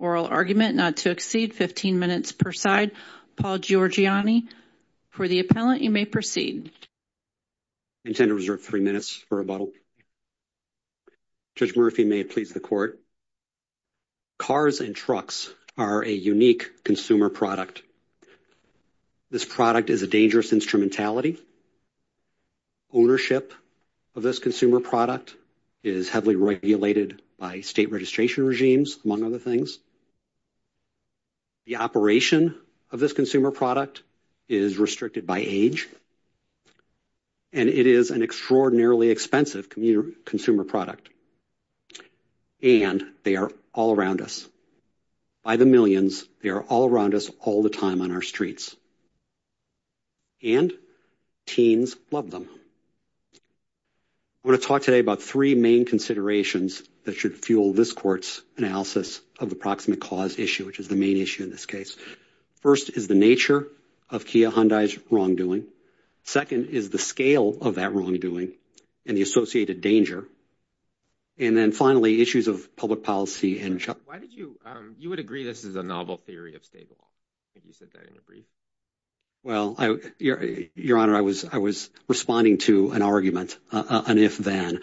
oral argument not to exceed 15 minutes per side. Paul Giorgianni, for the appellant, you may proceed. I intend to reserve three minutes for rebuttal. Judge Murphy, may it please the court? I intend to reserve three minutes for rebuttal. Judge Murphy, may it please the court? Cars and trucks are a unique consumer product. This product is a dangerous instrumentality. Ownership of this consumer product is heavily regulated by state registration regimes, among other things. The operation of this consumer product is restricted by age. And it is an extraordinarily expensive consumer product. And they are all around us. By the millions, they are all around us all the time on our streets. And teens love them. I want to talk today about three main considerations that should fuel this court's analysis of the proximate cause issue, which is the main issue in this case. First is the nature of Kia Hyundai's wrongdoing. Second is the scale of that wrongdoing and the associated danger. And then finally, issues of public policy and why did you you would agree this is a novel theory of state law. If you said that in a brief. Well, your honor, I was I was responding to an argument. And if then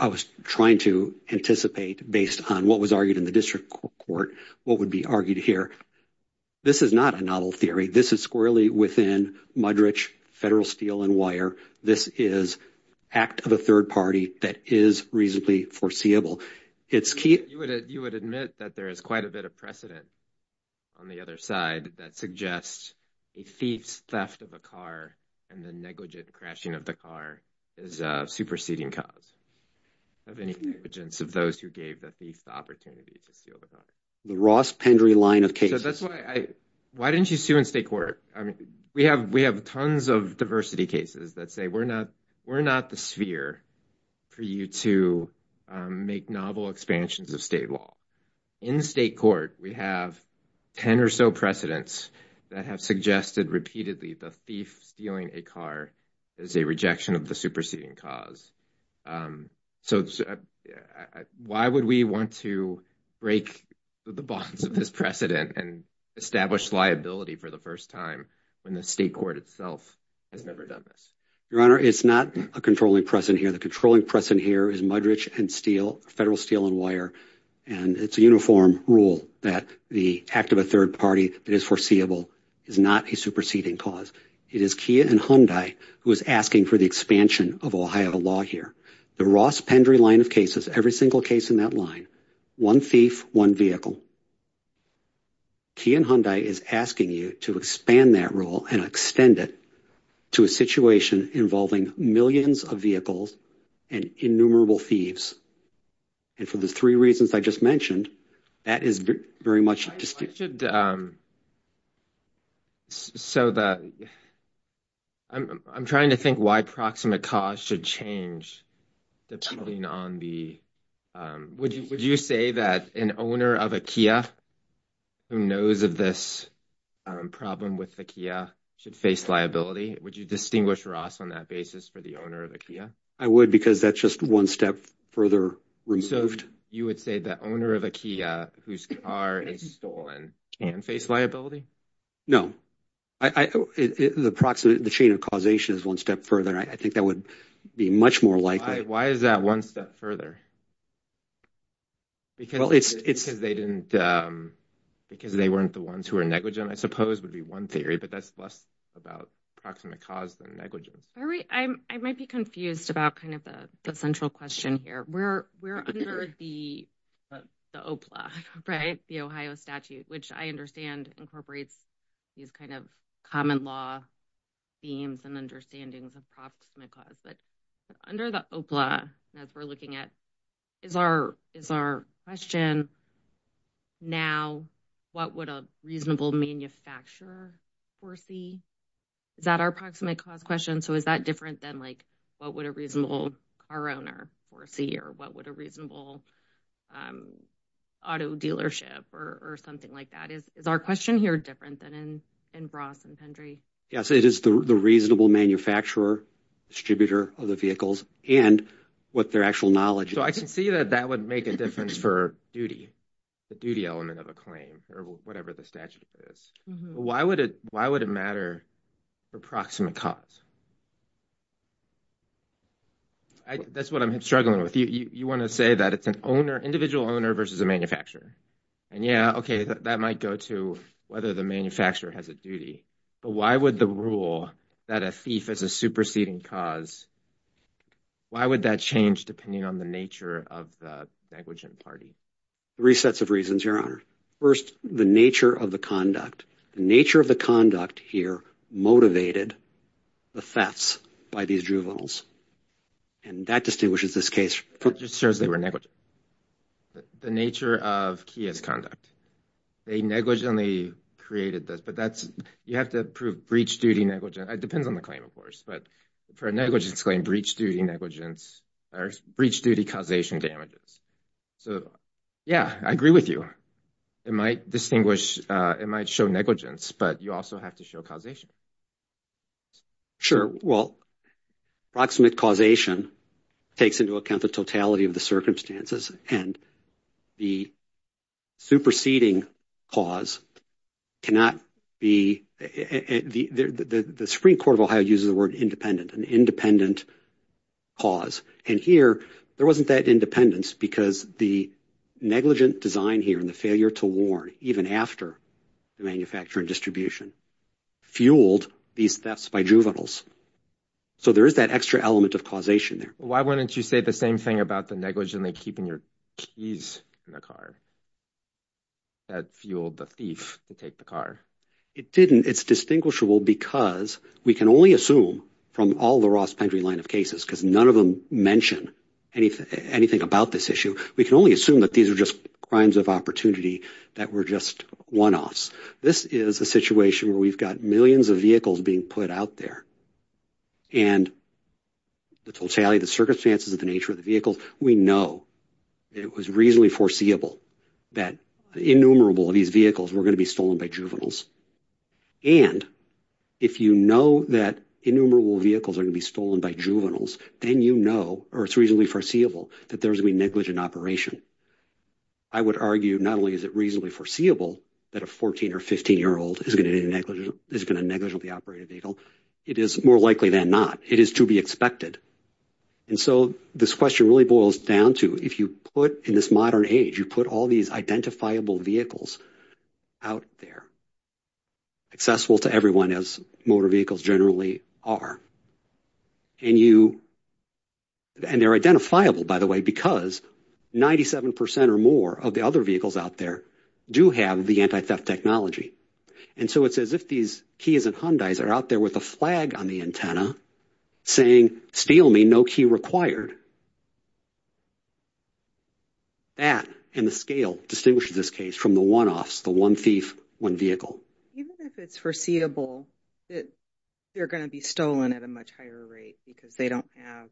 I was trying to anticipate based on what was argued in the district court, what would be argued here? This is not a novel theory. This is squarely within mud rich federal steel and wire. This is act of a third party that is reasonably foreseeable. It's key. You would you would admit that there is quite a bit of precedent. On the other side, that suggests a thief's theft of a car and the negligent crashing of the car is a superseding cause. Of any negligence of those who gave the thief the opportunity to steal the car. The Ross Pendry line of cases. That's why I why didn't you sue in state court? I mean, we have we have tons of diversity cases that say we're not we're not the sphere for you to make novel expansions of state law in state court. We have 10 or so precedents that have suggested repeatedly the thief stealing a car is a rejection of the superseding cause. So why would we want to break the bonds of this precedent and establish liability for the first time when the state court itself has never done this? Your honor, it's not a controlling precedent here. The controlling precedent here is mud rich and steel, federal steel and wire. And it's a uniform rule that the act of a third party that is foreseeable is not a superseding cause. It is Kia and Hyundai who is asking for the expansion of Ohio law here. The Ross Pendry line of cases, every single case in that line, one thief, one vehicle. Kia and Hyundai is asking you to expand that rule and extend it to a situation involving millions of vehicles and innumerable thieves. And for the three reasons I just mentioned, that is very much so that. I'm trying to think why proximate cause should change depending on the. Would you say that an owner of a Kia who knows of this problem with the Kia should face liability? Would you distinguish Ross on that basis for the owner of a Kia? I would, because that's just one step further removed. So you would say the owner of a Kia whose car is stolen and face liability? No, I, the proximate, the chain of causation is one step further. I think that would be much more likely. Why is that one step further? Because, well, it's because they didn't because they weren't the ones who are negligent, I suppose, would be one theory. But that's less about proximate cause than negligence. I might be confused about kind of the central question here. We're under the OPLA, right? The Ohio statute, which I understand incorporates these kind of common law themes and understandings of proximate cause. But under the OPLA, as we're looking at, is our question now, what would a reasonable manufacturer foresee? Is that our proximate cause question? So is that different than, like, what would a reasonable car owner foresee or what would a reasonable auto dealership or something like that? Is our question here different than in Ross and Pendry? Yes, it is the reasonable manufacturer, distributor of the vehicles and what their actual knowledge is. So I can see that that would make a difference for duty, the duty element of a claim or whatever the statute is. Why would it why would it matter for proximate cause? That's what I'm struggling with. You want to say that it's an owner, individual owner versus a manufacturer. And yeah, OK, that might go to whether the manufacturer has a duty. But why would the rule that a thief is a superseding cause? Why would that change depending on the nature of the negligent party? Three sets of reasons, Your Honor. First, the nature of the conduct. The nature of the conduct here motivated the thefts by these juveniles. And that distinguishes this case. It just shows they were negligent. The nature of Kia's conduct. They negligently created this, but that's you have to prove breach duty negligence. It depends on the claim, of course, but for negligence claim, breach duty negligence or breach duty causation damages. So, yeah, I agree with you. It might distinguish. It might show negligence, but you also have to show causation. Sure. Well, proximate causation takes into account the totality of the circumstances and the superseding cause cannot be the Supreme Court of Ohio uses the word independent and independent cause. And here there wasn't that independence because the negligent design here and the failure to warn even after the manufacturer and distribution fueled these thefts by juveniles. So there is that extra element of causation there. Why wouldn't you say the same thing about the negligently keeping your keys in the car? That fueled the thief to take the car. It didn't. It's distinguishable because we can only assume from all the Ross Pendry line of cases because none of them mention anything about this issue. We can only assume that these are just crimes of opportunity that were just one offs. This is a situation where we've got millions of vehicles being put out there. And the totality of the circumstances of the nature of the vehicle, we know it was reasonably foreseeable that innumerable of these vehicles were going to be stolen by juveniles. And if you know that innumerable vehicles are going to be stolen by juveniles, then, you know, or it's reasonably foreseeable that there's a negligent operation. I would argue not only is it reasonably foreseeable that a 14 or 15 year old is going to be negligent, is going to negligently operate a vehicle. It is more likely than not. It is to be expected. And so this question really boils down to if you put in this modern age, you put all these identifiable vehicles out there, accessible to everyone as motor vehicles generally are. And you and they're identifiable, by the way, because 97% or more of the other vehicles out there do have the anti-theft technology. And so it's as if these Kia's and Hyundai's are out there with a flag on the antenna saying, steal me no key required. That and the scale distinguishes this case from the one offs, the one thief, one vehicle. Even if it's foreseeable that they're going to be stolen at a much higher rate because they don't have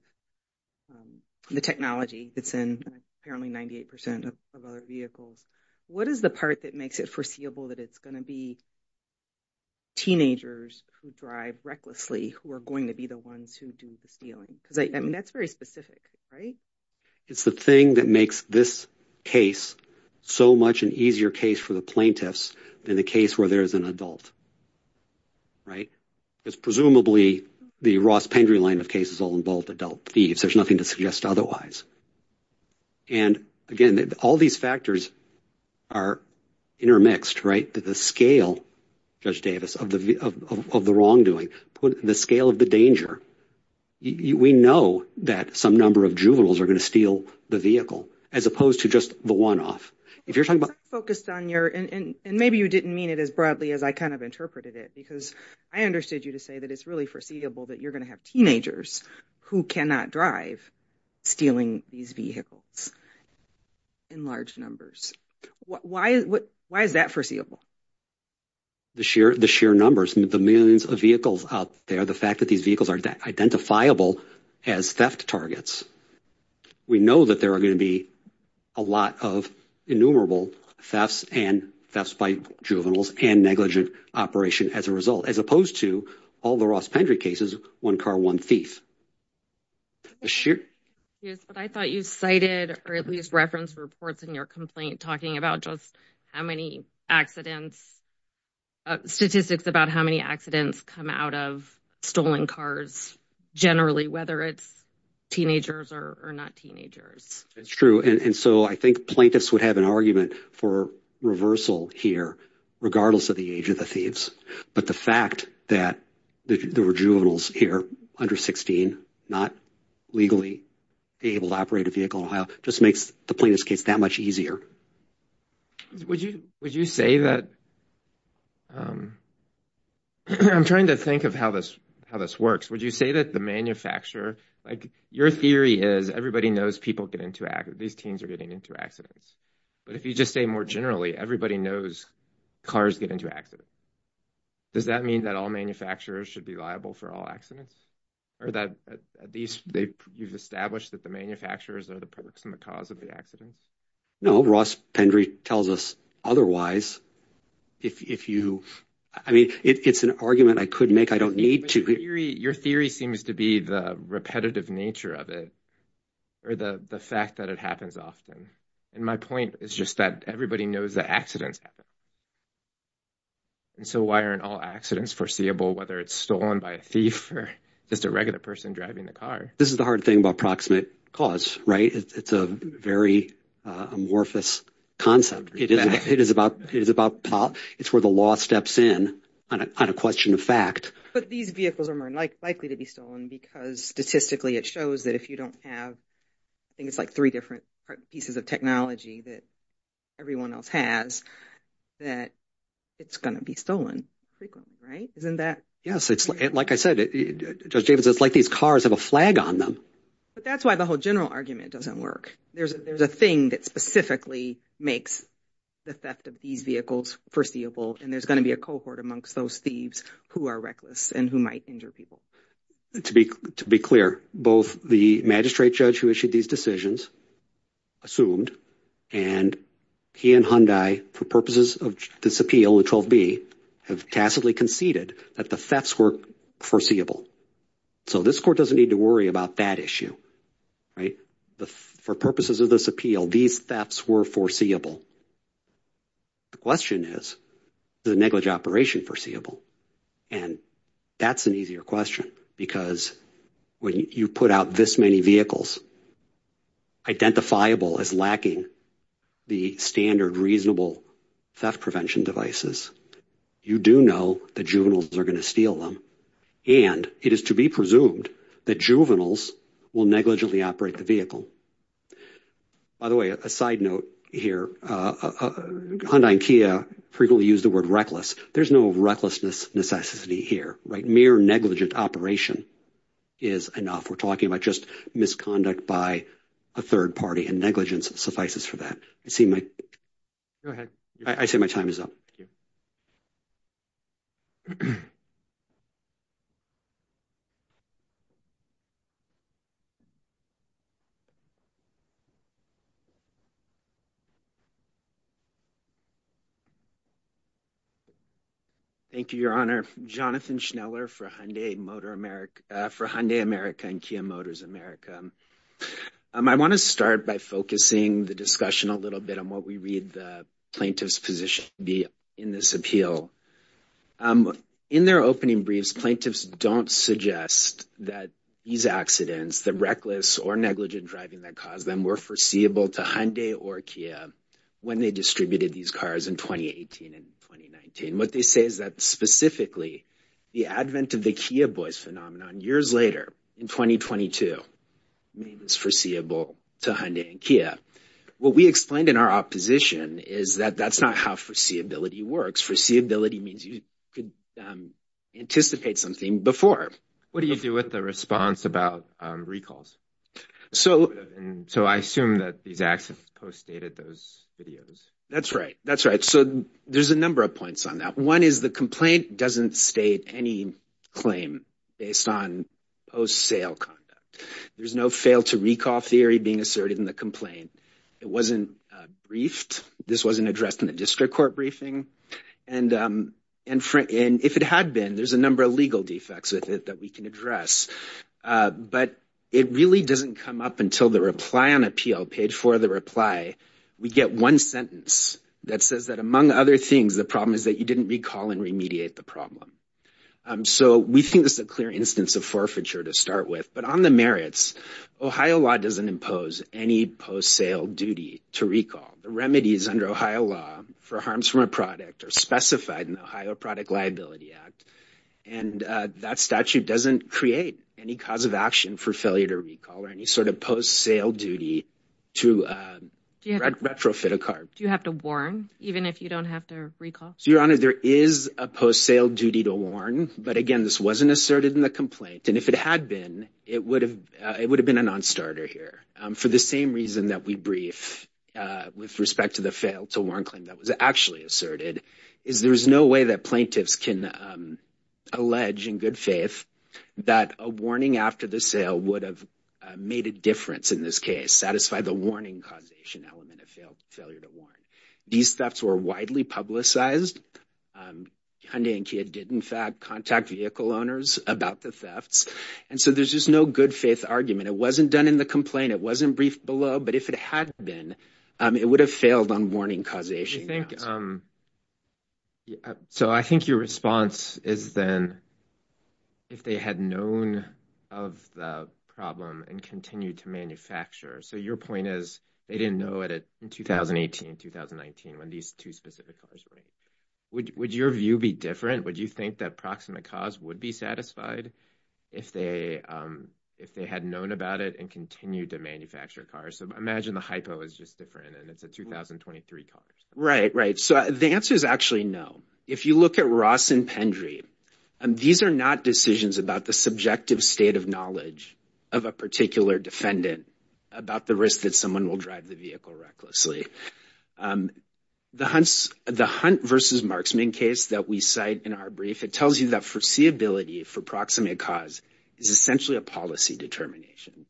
the technology that's in apparently 98% of other vehicles. What is the part that makes it foreseeable that it's going to be? Teenagers who drive recklessly, who are going to be the ones who do the stealing, because I mean, that's very specific, right? It's the thing that makes this case so much an easier case for the plaintiffs than the case where there is an adult. Right. It's presumably the Ross Pendry line of cases all involved adult thieves. There's nothing to suggest otherwise. And again, all these factors are intermixed. Right. The scale, Judge Davis, of the of the wrongdoing, the scale of the danger. We know that some number of juveniles are going to steal the vehicle as opposed to just the one off. If you're talking about focused on your and maybe you didn't mean it as broadly as I kind of interpreted it, because I understood you to say that it's really foreseeable that you're going to have teenagers who cannot drive stealing these vehicles in large numbers. Why? Why is that foreseeable? The sheer the sheer numbers and the millions of vehicles out there, the fact that these vehicles are identifiable as theft targets. We know that there are going to be a lot of innumerable thefts and thefts by juveniles and negligent operation as a result, as opposed to all the Ross Pendry cases, one car, one thief. Yes, but I thought you cited or at least reference reports in your complaint talking about just how many accidents, statistics about how many accidents come out of stolen cars generally, whether it's teenagers or not teenagers. It's true. And so I think plaintiffs would have an argument for reversal here, regardless of the age of the thieves. But the fact that there were juveniles here under 16 not legally able to operate a vehicle in Ohio just makes the plaintiff's case that much easier. Would you would you say that? I'm trying to think of how this how this works. Would you say that the manufacturer like your theory is everybody knows people get into these teams are getting into accidents. But if you just say more generally, everybody knows cars get into accidents. Does that mean that all manufacturers should be liable for all accidents or that these you've established that the manufacturers are the products and the cause of the accidents? No, Ross Pendry tells us otherwise. If you I mean, it's an argument I could make. I don't need to. Your theory seems to be the repetitive nature of it or the fact that it happens often. And my point is just that everybody knows the accidents. And so why aren't all accidents foreseeable, whether it's stolen by a thief or just a regular person driving the car? This is the hard thing about proximate cause. Right. It's a very amorphous concept. It is about it is about it's where the law steps in on a question of fact. But these vehicles are more likely to be stolen because statistically it shows that if you don't have things like three different pieces of technology that everyone else has that it's going to be stolen frequently. Right. Isn't that. Yes. It's like I said, it's like these cars have a flag on them. But that's why the whole general argument doesn't work. There's a there's a thing that specifically makes the theft of these vehicles foreseeable. And there's going to be a cohort amongst those thieves who are reckless and who might injure people. To be to be clear, both the magistrate judge who issued these decisions assumed and he and Hyundai, for purposes of this appeal, have tacitly conceded that the thefts were foreseeable. So this court doesn't need to worry about that issue. Right. For purposes of this appeal, these thefts were foreseeable. The question is the negligent operation foreseeable. And that's an easier question, because when you put out this many vehicles. Identifiable as lacking the standard reasonable theft prevention devices, you do know the juveniles are going to steal them. And it is to be presumed that juveniles will negligently operate the vehicle. By the way, a side note here, Hyundai and Kia frequently use the word reckless. There's no recklessness necessity here. Right. Mere negligent operation is enough. We're talking about just misconduct by a third party and negligence suffices for that. I see my. Go ahead. I say my time is up. Thank you, Your Honor. Jonathan Schneller for Hyundai Motor America for Hyundai America and Kia Motors America. I want to start by focusing the discussion a little bit on what we read the plaintiff's position be in this appeal. In their opening briefs, plaintiffs don't suggest that these accidents, the reckless or negligent driving that caused them were foreseeable to Hyundai or Kia. When they distributed these cars in 2018 and 2019, what they say is that specifically the advent of the Kia boys phenomenon years later in 2022 is foreseeable to Hyundai and Kia. What we explained in our opposition is that that's not how foreseeability works. Foreseeability means you could anticipate something before. What do you do with the response about recalls? So. So I assume that these acts have postdated those videos. That's right. That's right. So there's a number of points on that. One is the complaint doesn't state any claim based on post sale conduct. There's no fail to recall theory being asserted in the complaint. It wasn't briefed. This wasn't addressed in the district court briefing. And if it had been, there's a number of legal defects with it that we can address. But it really doesn't come up until the reply on appeal paid for the reply. We get one sentence that says that, among other things, the problem is that you didn't recall and remediate the problem. So we think this is a clear instance of forfeiture to start with. But on the merits, Ohio law doesn't impose any post sale duty to recall. The remedies under Ohio law for harms from a product are specified in the Ohio Product Liability Act. And that statute doesn't create any cause of action for failure to recall or any sort of post sale duty to retrofit a car. Do you have to warn even if you don't have to recall? Your Honor, there is a post sale duty to warn. But again, this wasn't asserted in the complaint. And if it had been, it would have it would have been a nonstarter here. For the same reason that we brief with respect to the fail to warn claim that was actually asserted, is there is no way that plaintiffs can allege in good faith that a warning after the sale would have made a difference in this case. Satisfy the warning causation element of failure to warn. These thefts were widely publicized. Hyundai and Kia did in fact contact vehicle owners about the thefts. And so there's just no good faith argument. It wasn't done in the complaint. It wasn't briefed below. But if it had been, it would have failed on warning causation. So I think your response is then. If they had known of the problem and continued to manufacture. So your point is they didn't know it in 2018, 2019, when these two specific cars. Would your view be different? Would you think that proximate cause would be satisfied if they if they had known about it and continued to manufacture cars? So imagine the hypo is just different and it's a 2023 car. Right. Right. So the answer is actually no. If you look at Ross and Pendry, these are not decisions about the subjective state of knowledge of a particular defendant about the risk that someone will drive the vehicle recklessly. The hunts, the hunt versus marksman case that we cite in our brief, it tells you that foreseeability for proximate cause is essentially a policy determination.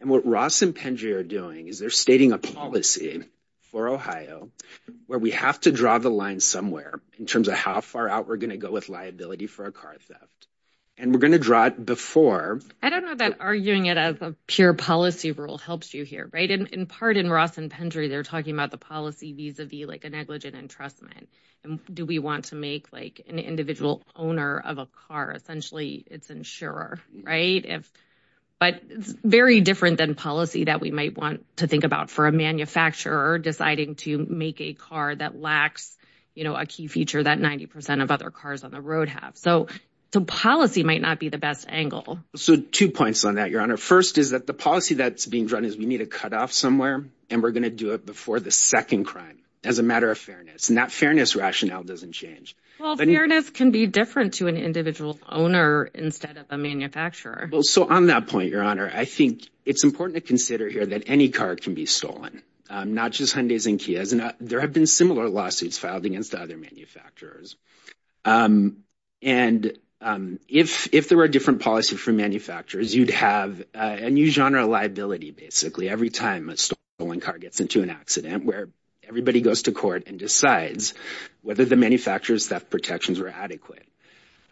And what Ross and Pendry are doing is they're stating a policy for Ohio where we have to draw the line somewhere in terms of how far out we're going to go with liability for a car theft. And we're going to draw it before. I don't know that arguing it as a pure policy rule helps you here. Right. And in part in Ross and Pendry, they're talking about the policy vis-a-vis like a negligent entrustment. And do we want to make like an individual owner of a car? Essentially, it's insurer. Right. But it's very different than policy that we might want to think about for a manufacturer deciding to make a car that lacks a key feature that 90 percent of other cars on the road have. So the policy might not be the best angle. So two points on that, Your Honor. First is that the policy that's being drawn is we need to cut off somewhere and we're going to do it before the second crime as a matter of fairness. And that fairness rationale doesn't change. Well, fairness can be different to an individual owner instead of a manufacturer. Well, so on that point, Your Honor, I think it's important to consider here that any car can be stolen, not just Hyundais and Kias. There have been similar lawsuits filed against other manufacturers. And if if there were a different policy for manufacturers, you'd have a new genre of liability. Basically, every time a stolen car gets into an accident where everybody goes to court and decides whether the manufacturer's theft protections were adequate.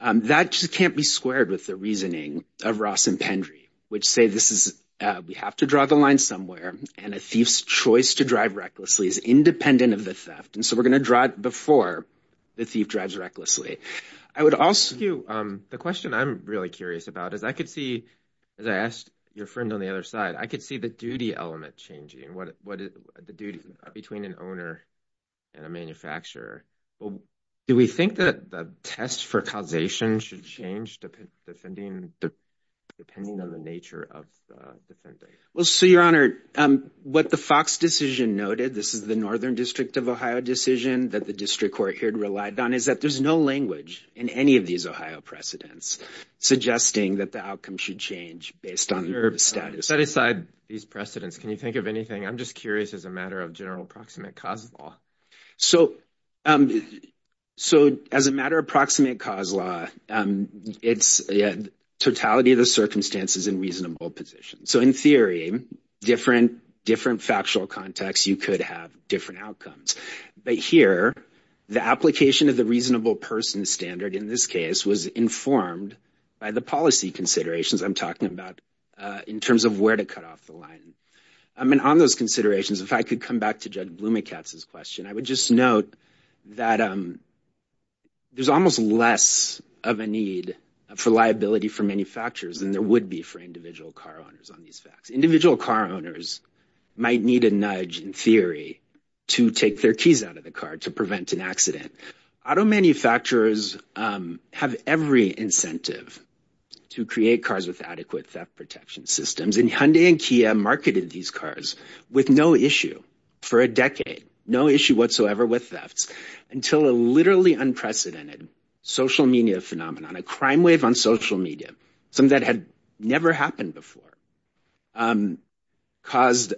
That just can't be squared with the reasoning of Ross and Pendry, which say this is we have to draw the line somewhere. And a thief's choice to drive recklessly is independent of the theft. And so we're going to drive before the thief drives recklessly. I would also do the question I'm really curious about is I could see as I asked your friend on the other side, I could see the duty element changing. What is the duty between an owner and a manufacturer? Do we think that the test for causation should change depending on the nature of the defendant? Well, so, Your Honor, what the Fox decision noted, this is the Northern District of Ohio decision that the district court here relied on, is that there's no language in any of these Ohio precedents suggesting that the outcome should change based on status. Set aside these precedents, can you think of anything? I'm just curious as a matter of general approximate cause law. So as a matter of approximate cause law, it's the totality of the circumstances in reasonable positions. So in theory, different factual contexts, you could have different outcomes. But here, the application of the reasonable person standard in this case was informed by the policy considerations I'm talking about in terms of where to cut off the line. I mean, on those considerations, if I could come back to Judge Blumenkatz's question, I would just note that there's almost less of a need for liability for manufacturers than there would be for individual car owners on these facts. Individual car owners might need a nudge in theory to take their keys out of the car to prevent an accident. Auto manufacturers have every incentive to create cars with adequate theft protection systems. And Hyundai and Kia marketed these cars with no issue for a decade, no issue whatsoever with thefts, until a literally unprecedented social media phenomenon, a crime wave on social media, some that had never happened before, caused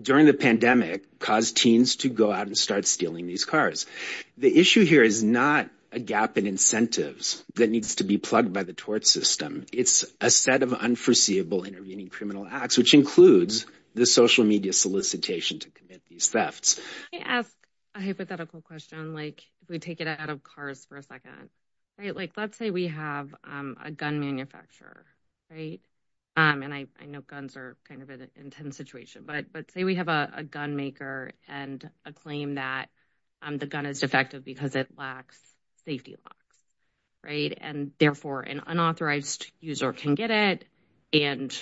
during the pandemic, caused teens to go out and start stealing these cars. The issue here is not a gap in incentives that needs to be plugged by the tort system. It's a set of unforeseeable intervening criminal acts, which includes the social media solicitation to commit these thefts. Can I ask a hypothetical question? Like, if we take it out of cars for a second, right? Like, let's say we have a gun manufacturer, right? And I know guns are kind of an intense situation. But say we have a gun maker and a claim that the gun is defective because it lacks safety locks. Right. And therefore, an unauthorized user can get it and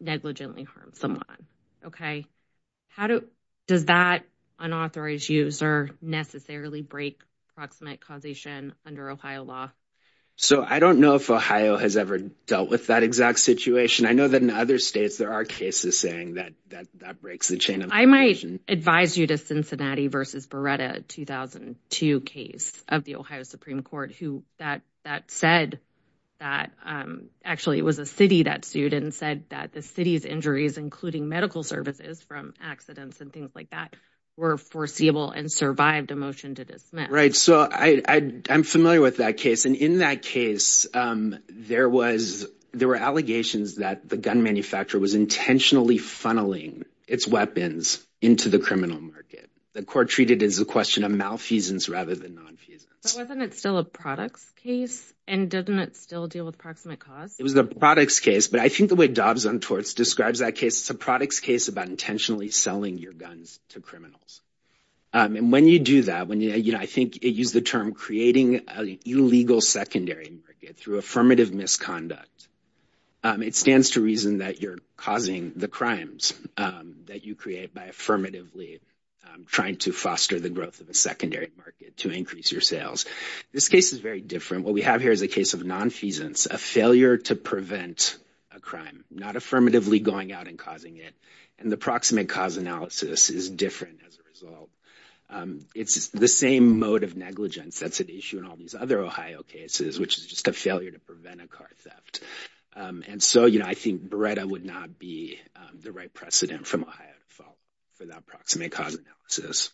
negligently harm someone. OK, how does that unauthorized user necessarily break proximate causation under Ohio law? So I don't know if Ohio has ever dealt with that exact situation. I know that in other states there are cases saying that that breaks the chain. I might advise you to Cincinnati versus Beretta 2002 case of the Ohio Supreme Court, who that said that actually it was a city that sued and said that the city's injuries, including medical services from accidents and things like that, were foreseeable and survived a motion to dismiss. Right. So I'm familiar with that case. And in that case, there was there were allegations that the gun manufacturer was intentionally funneling its weapons into the criminal market. The court treated it as a question of malfeasance rather than nonfeasance. But wasn't it still a products case? And doesn't it still deal with proximate cause? It was the products case. But I think the way Dobbs on torts describes that case, it's a products case about intentionally selling your guns to criminals. And when you do that, when you know, I think you use the term creating illegal secondary through affirmative misconduct. It stands to reason that you're causing the crimes that you create by affirmatively trying to foster the growth of a secondary market to increase your sales. This case is very different. What we have here is a case of nonfeasance, a failure to prevent a crime, not affirmatively going out and causing it. And the proximate cause analysis is different as a result. It's the same mode of negligence that's at issue in all these other Ohio cases, which is just a failure to prevent a car theft. And so, you know, I think Beretta would not be the right precedent from Ohio to fall for that proximate cause analysis.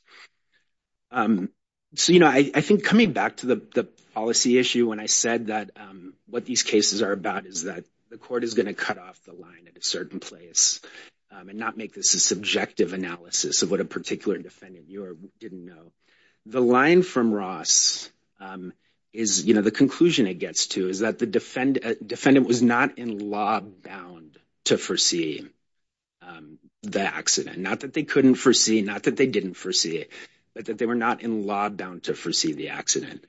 So, you know, I think coming back to the policy issue, when I said that what these cases are about is that the court is going to cut off the line at a certain place and not make this a subjective analysis of what a particular defendant knew or didn't know. The line from Ross is, you know, the conclusion it gets to is that the defendant was not in law bound to foresee the accident. Not that they couldn't foresee, not that they didn't foresee it, but that they were not in law bound to foresee the accident.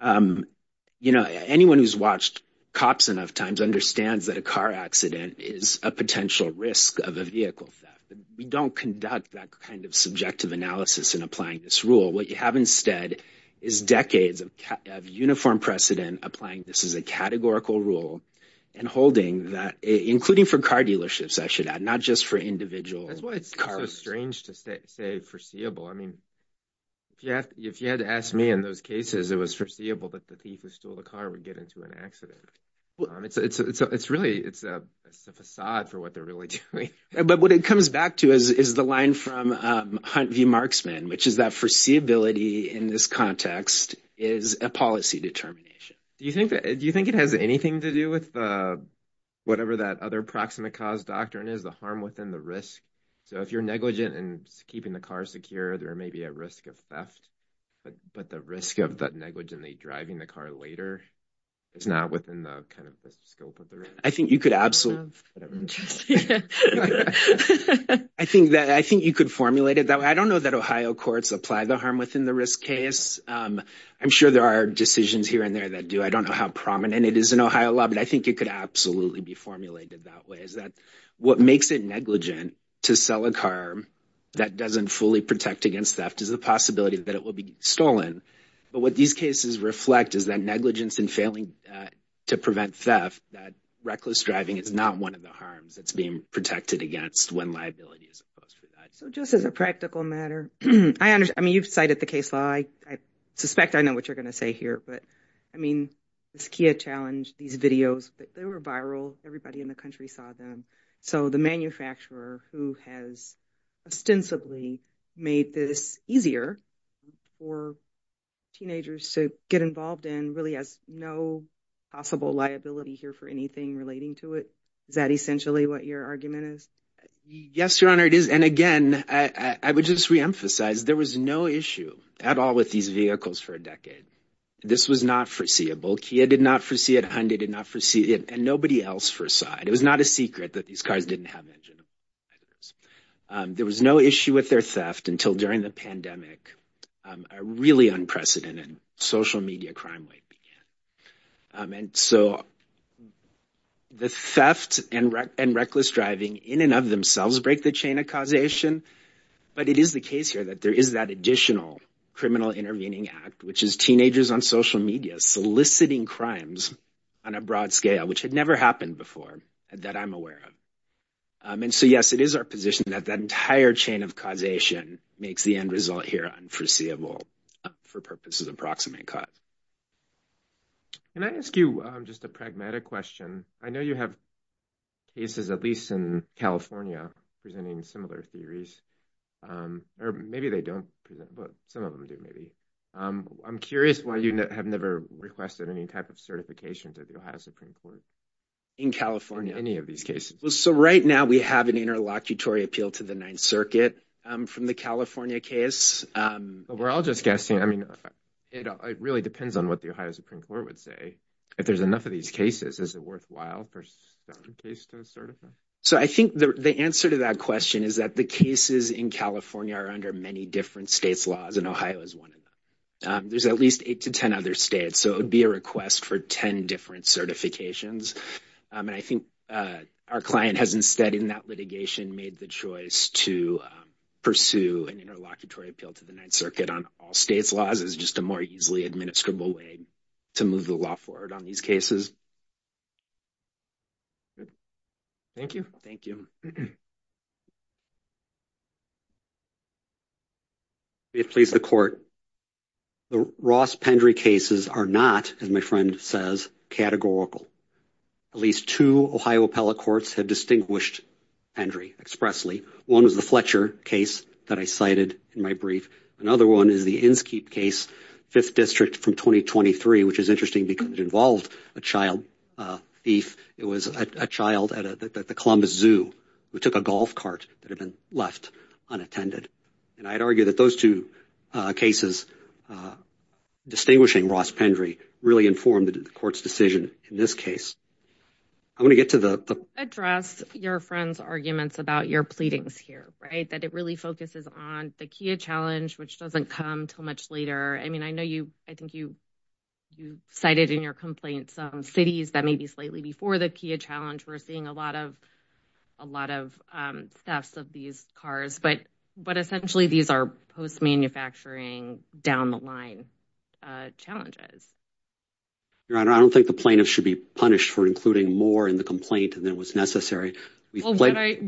You know, anyone who's watched cops enough times understands that a car accident is a potential risk of a vehicle theft. We don't conduct that kind of subjective analysis in applying this rule. What you have instead is decades of uniform precedent applying this as a categorical rule and holding that, including for car dealerships, I should add, not just for individual cars. It's so strange to say foreseeable. I mean, if you had to ask me in those cases, it was foreseeable that the thief who stole the car would get into an accident. It's really, it's a facade for what they're really doing. But what it comes back to is the line from Hunt v. Marksman, which is that foreseeability in this context is a policy determination. Do you think it has anything to do with whatever that other proximate cause doctrine is, the harm within the risk? So if you're negligent in keeping the car secure, there may be a risk of theft. But the risk of that negligently driving the car later is not within the kind of scope of the risk. I think you could absolutely. I think that I think you could formulate it that way. I don't know that Ohio courts apply the harm within the risk case. I'm sure there are decisions here and there that do. I don't know how prominent it is in Ohio law. But I think it could absolutely be formulated that way, is that what makes it negligent to sell a car that doesn't fully protect against theft is the possibility that it will be stolen. But what these cases reflect is that negligence in failing to prevent theft, that reckless driving is not one of the harms that's being protected against when liability is imposed. So just as a practical matter, I mean, you've cited the case law. I suspect I know what you're going to say here. But I mean, this Kia challenge, these videos, they were viral. Everybody in the country saw them. So the manufacturer who has ostensibly made this easier for teenagers to get involved in really has no possible liability here for anything relating to it. Is that essentially what your argument is? Yes, Your Honor, it is. And again, I would just reemphasize there was no issue at all with these vehicles for a decade. This was not foreseeable. Kia did not foresee it. Hyundai did not foresee it. And nobody else foresaw it. It was not a secret that these cars didn't have engines. There was no issue with their theft until during the pandemic, a really unprecedented social media crime rate began. And so the theft and reckless driving in and of themselves break the chain of causation. But it is the case here that there is that additional criminal intervening act, which is teenagers on social media soliciting crimes on a broad scale, which had never happened before that I'm aware of. And so, yes, it is our position that that entire chain of causation makes the end result here unforeseeable for purposes of proximate cause. Can I ask you just a pragmatic question? I know you have cases, at least in California, presenting similar theories. Or maybe they don't. Some of them do, maybe. I'm curious why you have never requested any type of certification to the Ohio Supreme Court. In California, any of these cases. So right now we have an interlocutory appeal to the Ninth Circuit from the California case. But we're all just guessing. I mean, it really depends on what the Ohio Supreme Court would say. If there's enough of these cases, is it worthwhile for certain cases to be certified? So I think the answer to that question is that the cases in California are under many different states laws and Ohio is one of them. There's at least eight to 10 other states. So it would be a request for 10 different certifications. And I think our client has instead in that litigation made the choice to pursue an interlocutory appeal to the Ninth Circuit on all states laws is just a more easily administrable way to move the law forward on these cases. Thank you. Thank you. If please the court. The Ross Pendry cases are not, as my friend says, categorical. At least two Ohio appellate courts have distinguished Pendry expressly. One was the Fletcher case that I cited in my brief. Another one is the Inskeep case, 5th District from 2023, which is interesting because it involved a child thief. It was a child at the Columbus Zoo who took a golf cart that had been left unattended. And I'd argue that those two cases distinguishing Ross Pendry really informed the court's decision in this case. I want to get to the address your friend's arguments about your pleadings here, right, that it really focuses on the Kia challenge, which doesn't come till much later. I mean, I know you I think you you cited in your complaints cities that may be slightly before the Kia challenge. We're seeing a lot of a lot of thefts of these cars. But but essentially, these are post manufacturing down the line challenges. Your Honor, I don't think the plaintiff should be punished for including more in the complaint than was necessary. I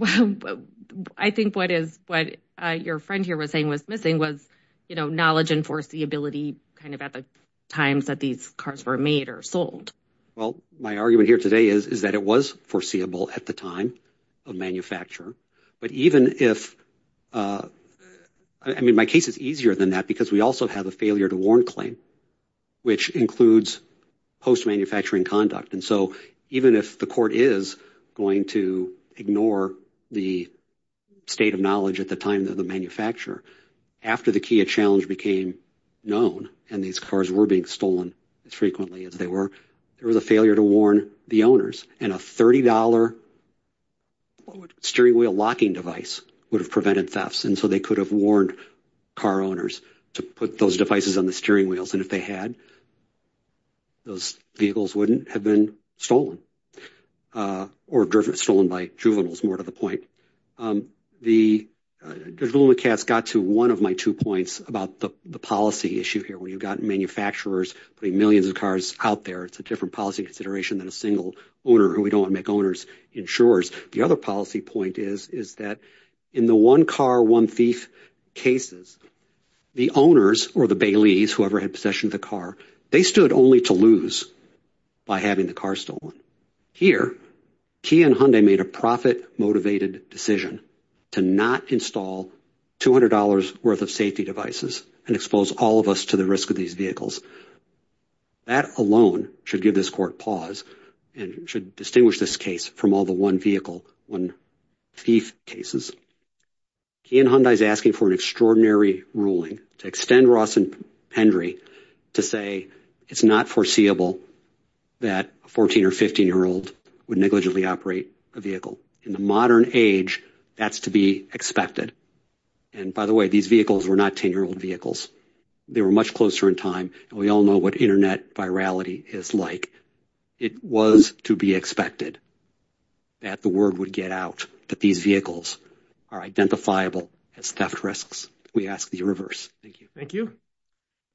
think what is what your friend here was saying was missing was, you know, knowledge and foreseeability kind of at the times that these cars were made or sold. Well, my argument here today is, is that it was foreseeable at the time of manufacture. But even if I mean, my case is easier than that because we also have a failure to warn claim, which includes post manufacturing conduct. And so even if the court is going to ignore the state of knowledge at the time of the manufacturer, after the Kia challenge became known and these cars were being stolen as frequently as they were, there was a failure to warn the owners. And a 30 dollar steering wheel locking device would have prevented thefts. And so they could have warned car owners to put those devices on the steering wheels. And if they had. Those vehicles wouldn't have been stolen or stolen by juveniles. More to the point, the cat's got to one of my two points about the policy issue here. When you've got manufacturers putting millions of cars out there, it's a different policy consideration than a single owner who we don't make owners insurers. The other policy point is, is that in the one car, one thief cases, the owners or the Bailey's, whoever had possession of the car, they stood only to lose by having the car stolen. Here, Kia and Hyundai made a profit motivated decision to not install two hundred dollars worth of safety devices and expose all of us to the risk of these vehicles. That alone should give this court pause and should distinguish this case from all the one vehicle, one thief cases. Kia and Hyundai is asking for an extraordinary ruling to extend Ross and Henry to say it's not foreseeable that a 14 or 15 year old would negligibly operate a vehicle in the modern age. That's to be expected. And by the way, these vehicles were not 10 year old vehicles. They were much closer in time. We all know what Internet virality is like. It was to be expected that the word would get out that these vehicles are identifiable as theft risks. We ask the reverse. Thank you. Thank you.